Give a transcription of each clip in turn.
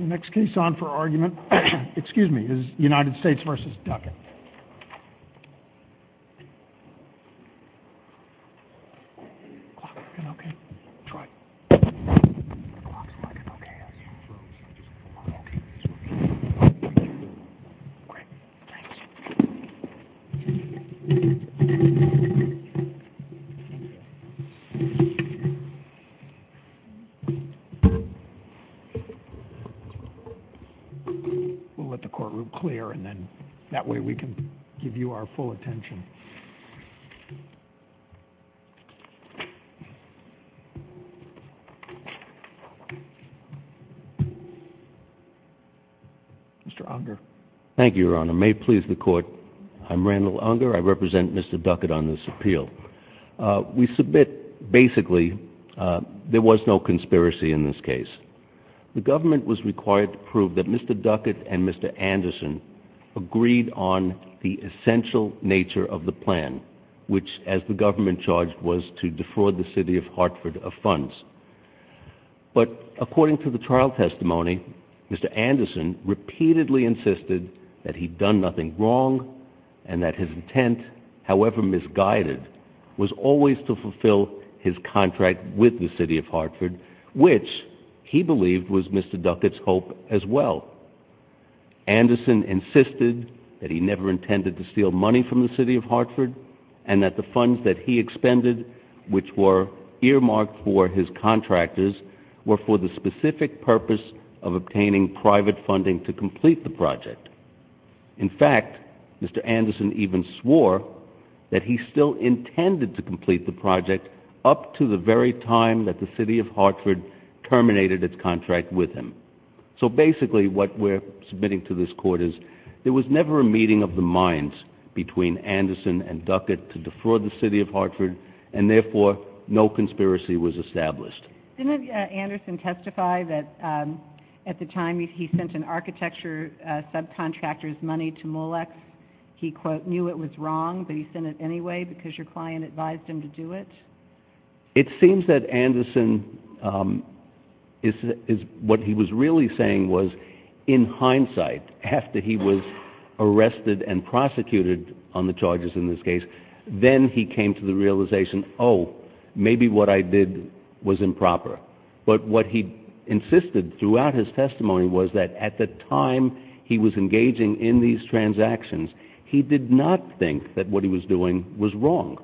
Next case on for argument is United States v. Duckett. We'll let the courtroom clear, and then that way we can give you our full attention. Mr. Unger. Thank you, Your Honor. May it please the Court, I'm Randall Unger. I represent Mr. Duckett on this appeal. We submit, basically, there was no conspiracy in this case. The government was required to prove that Mr. Duckett and Mr. Anderson agreed on the essential nature of the plan, which, as the government charged, was to defraud the city of Hartford of funds. But, according to the trial testimony, Mr. Anderson repeatedly insisted that he'd done nothing wrong, and that his intent, however misguided, was always to fulfill his contract with the city of Hartford, which he believed was Mr. Duckett's hope as well. Anderson insisted that he never intended to steal money from the city of Hartford, and that the funds that he expended, which were earmarked for his contractors, were for the specific purpose of obtaining private funding to complete the project. In fact, Mr. Anderson even swore that he still intended to complete the project up to the very time that the city of Hartford terminated its contract with him. So basically, what we're submitting to this court is, there was never a meeting of the minds between Anderson and Duckett to defraud the city of Hartford, and therefore, no conspiracy was established. Didn't Anderson testify that at the time he sent an architecture subcontractor's money to Molex, he, quote, knew it was wrong, but he sent it anyway because your client advised him to do it? It seems that Anderson, what he was really saying was, in hindsight, after he was arrested and prosecuted on the charges in this case, then he came to the realization, oh, maybe what I did was improper. But what he insisted throughout his testimony was that at the time he was engaging in these transactions, he did not think that what he was doing was wrong.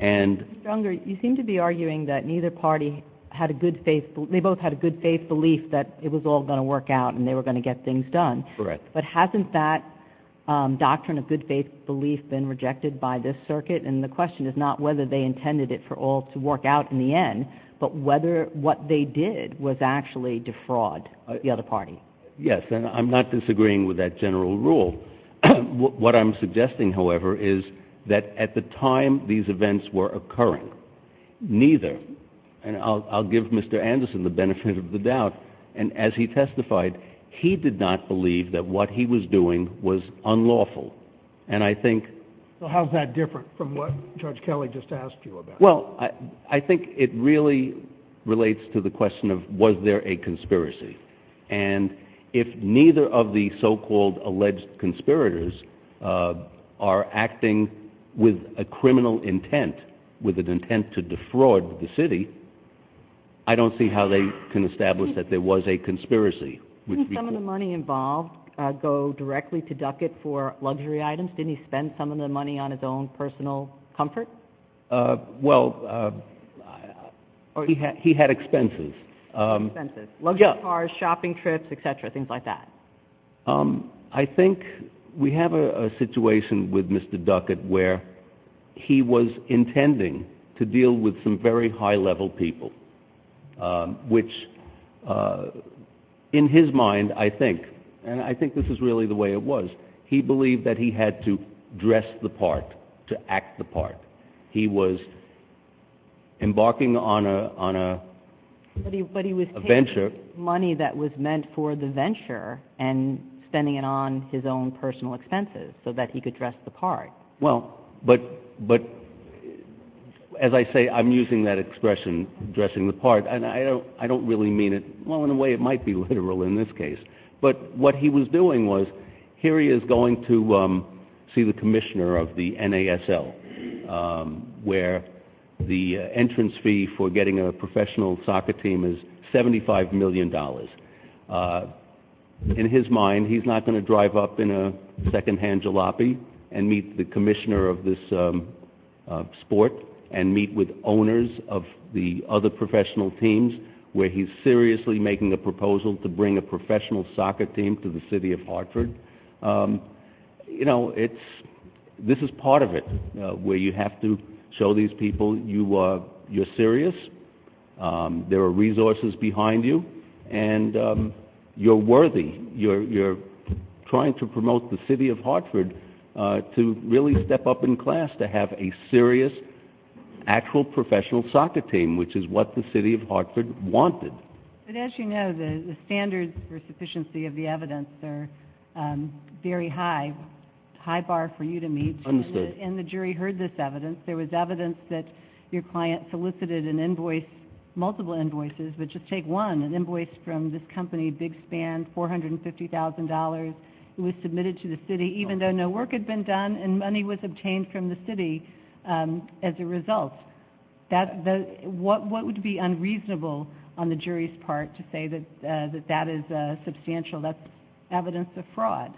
Mr. Unger, you seem to be arguing that neither party had a good faith, they both had a good faith belief that it was all going to work out and they were going to get things done. Correct. But hasn't that doctrine of good faith belief been rejected by this circuit? And the question is not whether they intended it for all to work out in the end, but whether what they did was actually defraud the other party. Yes, and I'm not disagreeing with that general rule. What I'm suggesting, however, is that at the time these events were occurring, neither, and I'll give Mr. Anderson the benefit of the doubt, and as he testified, he did not believe that what he was doing was unlawful. So how is that different from what Judge Kelly just asked you about? Well, I think it really relates to the question of was there a conspiracy. And if neither of the so-called alleged conspirators are acting with a criminal intent, with an intent to defraud the city, I don't see how they can establish that there was a conspiracy. Didn't some of the money involved go directly to Duckett for luxury items? Didn't he spend some of the money on his own personal comfort? Well, he had expenses. Expenses. Luxury cars, shopping trips, et cetera, things like that. I think we have a situation with Mr. Duckett where he was intending to deal with some very high-level people, which in his mind, I think, and I think this is really the way it was, he believed that he had to dress the part to act the part. He was embarking on a venture. But he was taking money that was meant for the venture and spending it on his own personal expenses so that he could dress the part. Well, but as I say, I'm using that expression, dressing the part, and I don't really mean it well in a way it might be literal in this case. But what he was doing was, here he is going to see the commissioner of the NASL, where the entrance fee for getting a professional soccer team is $75 million. In his mind, he's not going to drive up in a secondhand jalopy and meet the commissioner of this sport and meet with owners of the other professional teams, where he's seriously making a proposal to bring a professional soccer team to the city of Hartford. You know, this is part of it, where you have to show these people you're serious, there are resources behind you, and you're worthy. You're trying to promote the city of Hartford to really step up in class, to have a serious, actual professional soccer team, which is what the city of Hartford wanted. But as you know, the standards for sufficiency of the evidence are very high, a high bar for you to meet. Understood. And the jury heard this evidence. There was evidence that your client solicited an invoice, multiple invoices, but just take one, an invoice from this company, Big Span, $450,000. It was submitted to the city, even though no work had been done, and money was obtained from the city as a result. What would be unreasonable on the jury's part to say that that is substantial? That's evidence of fraud.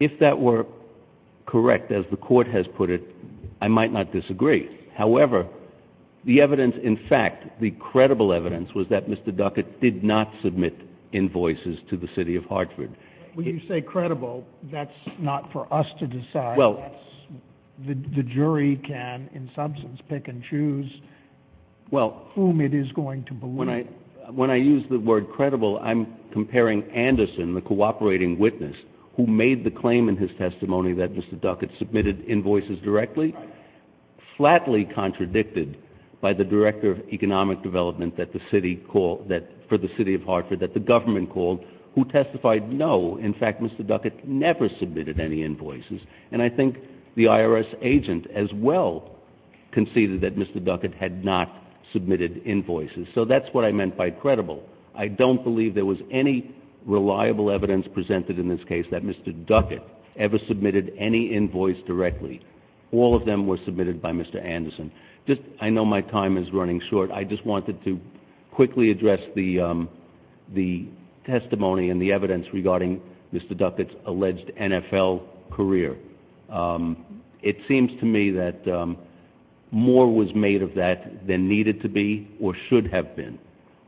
If that were correct, as the court has put it, I might not disagree. However, the evidence, in fact, the credible evidence, was that Mr. Duckett did not submit invoices to the city of Hartford. When you say credible, that's not for us to decide. The jury can, in substance, pick and choose whom it is going to believe. When I use the word credible, I'm comparing Anderson, the cooperating witness, who made the claim in his testimony that Mr. Duckett submitted invoices directly, flatly contradicted by the director of economic development for the city of Hartford that the government called, who testified, no, in fact, Mr. Duckett never submitted any invoices. And I think the IRS agent, as well, conceded that Mr. Duckett had not submitted invoices. So that's what I meant by credible. I don't believe there was any reliable evidence presented in this case that Mr. Duckett ever submitted any invoice directly. All of them were submitted by Mr. Anderson. I know my time is running short. I just wanted to quickly address the testimony and the evidence regarding Mr. Duckett's alleged NFL career. It seems to me that more was made of that than needed to be or should have been.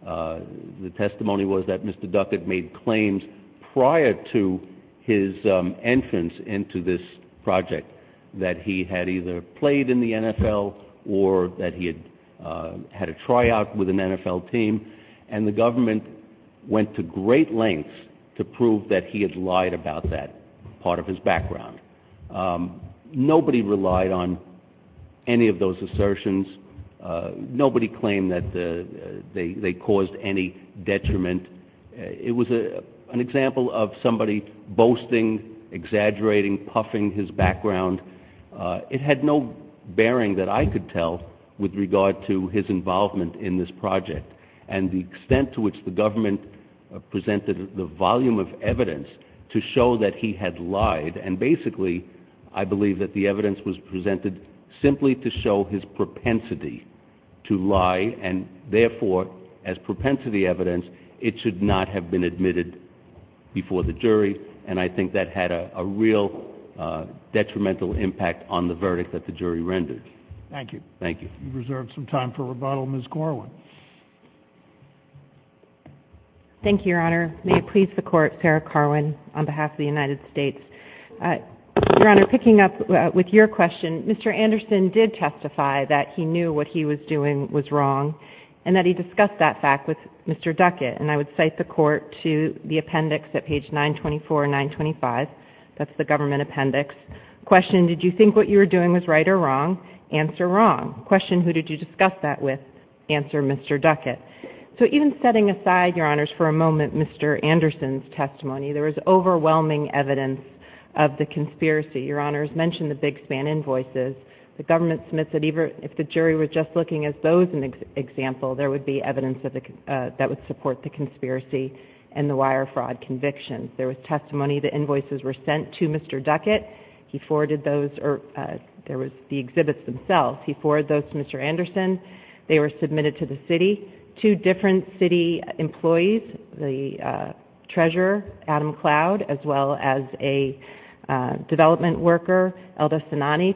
The testimony was that Mr. Duckett made claims prior to his entrance into this project, that he had either played in the NFL or that he had had a tryout with an NFL team, and the government went to great lengths to prove that he had lied about that part of his background. Nobody relied on any of those assertions. Nobody claimed that they caused any detriment. It was an example of somebody boasting, exaggerating, puffing his background. It had no bearing that I could tell with regard to his involvement in this project and the extent to which the government presented the volume of evidence to show that he had lied. And basically, I believe that the evidence was presented simply to show his propensity to lie, and therefore, as propensity evidence, it should not have been admitted before the jury. And I think that had a real detrimental impact on the verdict that the jury rendered. Thank you. Thank you. We reserve some time for rebuttal. Ms. Corwin. Thank you, Your Honor. May it please the Court, Sarah Corwin on behalf of the United States. Your Honor, picking up with your question, Mr. Anderson did testify that he knew what he was doing was wrong and that he discussed that fact with Mr. Duckett. And I would cite the Court to the appendix at page 924 and 925. That's the government appendix. Question, did you think what you were doing was right or wrong? Answer, wrong. Question, who did you discuss that with? Answer, Mr. Duckett. So even setting aside, Your Honors, for a moment Mr. Anderson's testimony, there was overwhelming evidence of the conspiracy. Your Honors mentioned the Big Span invoices. The government submits that even if the jury were just looking at those as an example, there would be evidence that would support the conspiracy and the wire fraud convictions. There was testimony the invoices were sent to Mr. Duckett. He forwarded those or there was the exhibits themselves. He forwarded those to Mr. Anderson. They were submitted to the city. Two different city employees, the treasurer, Adam Cloud, as well as a development worker,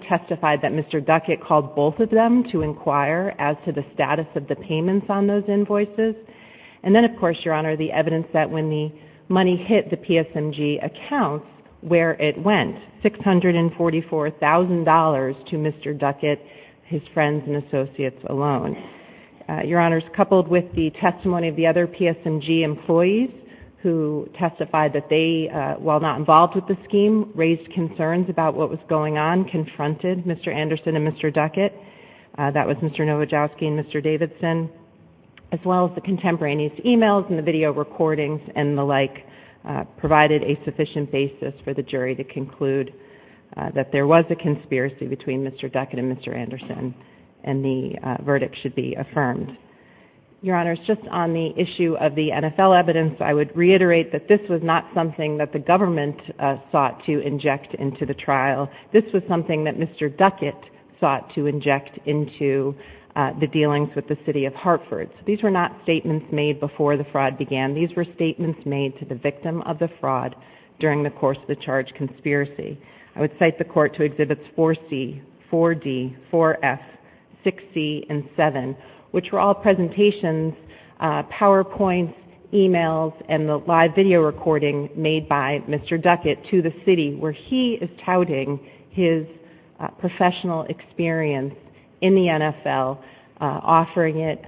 testified that Mr. Duckett called both of them to inquire as to the status of the payments on those invoices. And then, of course, Your Honor, the evidence that when the money hit the PSMG accounts, where it went, $644,000 to Mr. Duckett, his friends, and associates alone. Your Honors, coupled with the testimony of the other PSMG employees who testified that they, while not involved with the scheme, raised concerns about what was going on, confronted Mr. Anderson and Mr. Duckett. That was Mr. Nowajowski and Mr. Davidson, as well as the contemporaneous e-mails and the video recordings and the like, provided a sufficient basis for the jury to conclude that there was a conspiracy between Mr. Duckett and Mr. Anderson, and the verdict should be affirmed. Your Honors, just on the issue of the NFL evidence, I would reiterate that this was not something that the government sought to inject into the trial. This was something that Mr. Duckett sought to inject into the dealings with the city of Hartford. These were not statements made before the fraud began. These were statements made to the victim of the fraud during the course of the charge conspiracy. I would cite the court to Exhibits 4C, 4D, 4F, 6C, and 7, which were all presentations, PowerPoints, e-mails, and the live video recording made by Mr. Duckett to the city where he is touting his professional experience in the NFL, offering it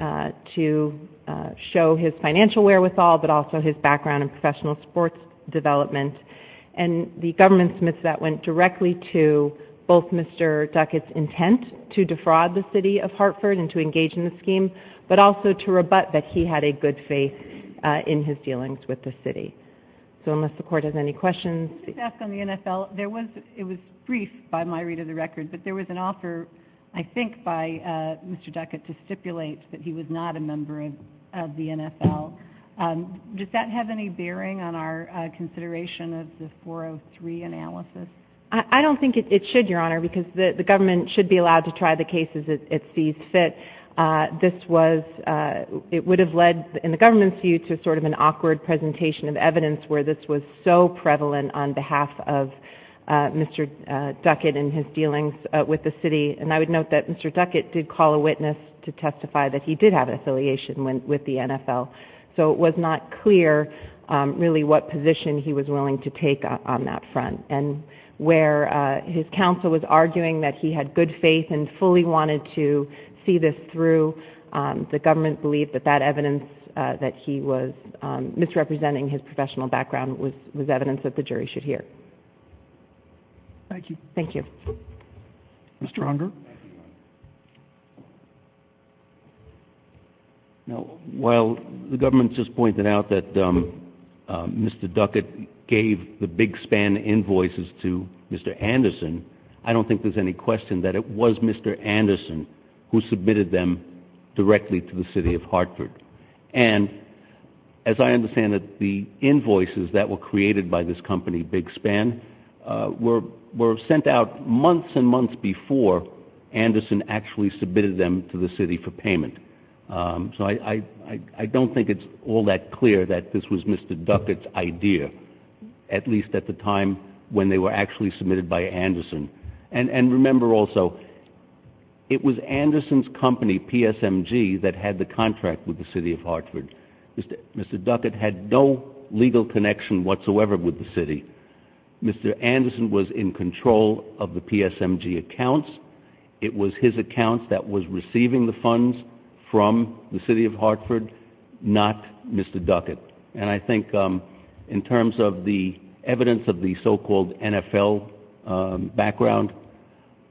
to show his financial wherewithal, but also his background in professional sports development. And the government's myth of that went directly to both Mr. Duckett's intent to defraud the city of Hartford and to engage in the scheme, but also to rebut that he had a good faith in his dealings with the city. So unless the Court has any questions. Let me just ask on the NFL. It was brief by my read of the record, but there was an offer, I think by Mr. Duckett, to stipulate that he was not a member of the NFL. Does that have any bearing on our consideration of the 403 analysis? I don't think it should, Your Honor, because the government should be allowed to try the cases it sees fit. This was – it would have led, in the government's view, to sort of an awkward presentation of evidence where this was so prevalent on behalf of Mr. Duckett and his dealings with the city. And I would note that Mr. Duckett did call a witness to testify that he did have an affiliation with the NFL. So it was not clear, really, what position he was willing to take on that front. And where his counsel was arguing that he had good faith and fully wanted to see this through, the government believed that that evidence that he was misrepresenting his professional background was evidence that the jury should hear. Thank you. Thank you. Mr. Hunger? Now, while the government just pointed out that Mr. Duckett gave the Big Span invoices to Mr. Anderson, I don't think there's any question that it was Mr. Anderson who submitted them directly to the city of Hartford. And as I understand it, the invoices that were created by this company, Big Span, were sent out months and months before Anderson actually submitted them to the city for payment. So I don't think it's all that clear that this was Mr. Duckett's idea, at least at the time when they were actually submitted by Anderson. And remember also, it was Anderson's company, PSMG, that had the contract with the city of Hartford. Mr. Duckett had no legal connection whatsoever with the city. Mr. Anderson was in control of the PSMG accounts. It was his accounts that was receiving the funds from the city of Hartford, not Mr. Duckett. And I think in terms of the evidence of the so-called NFL background,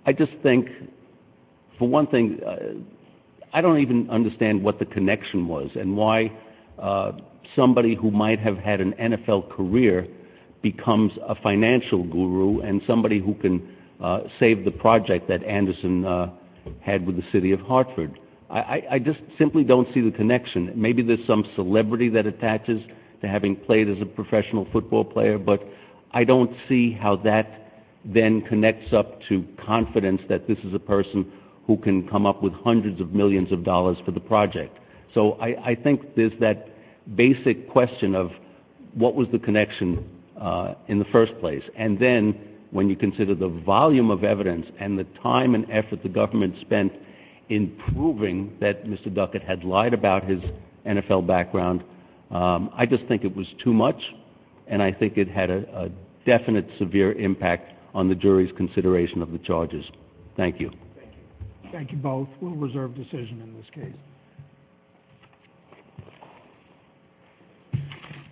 I just think, for one thing, I don't even understand what the connection was and why somebody who might have had an NFL career becomes a financial guru and somebody who can save the project that Anderson had with the city of Hartford. I just simply don't see the connection. Maybe there's some celebrity that attaches to having played as a professional football player, but I don't see how that then connects up to confidence that this is a person who can come up with hundreds of millions of dollars for the project. So I think there's that basic question of what was the connection in the first place. And then when you consider the volume of evidence and the time and effort the government spent in proving that Mr. Duckett had lied about his NFL background, I just think it was too much, and I think it had a definite severe impact on the jury's consideration of the charges. Thank you. Thank you both. We'll reserve decision in this case.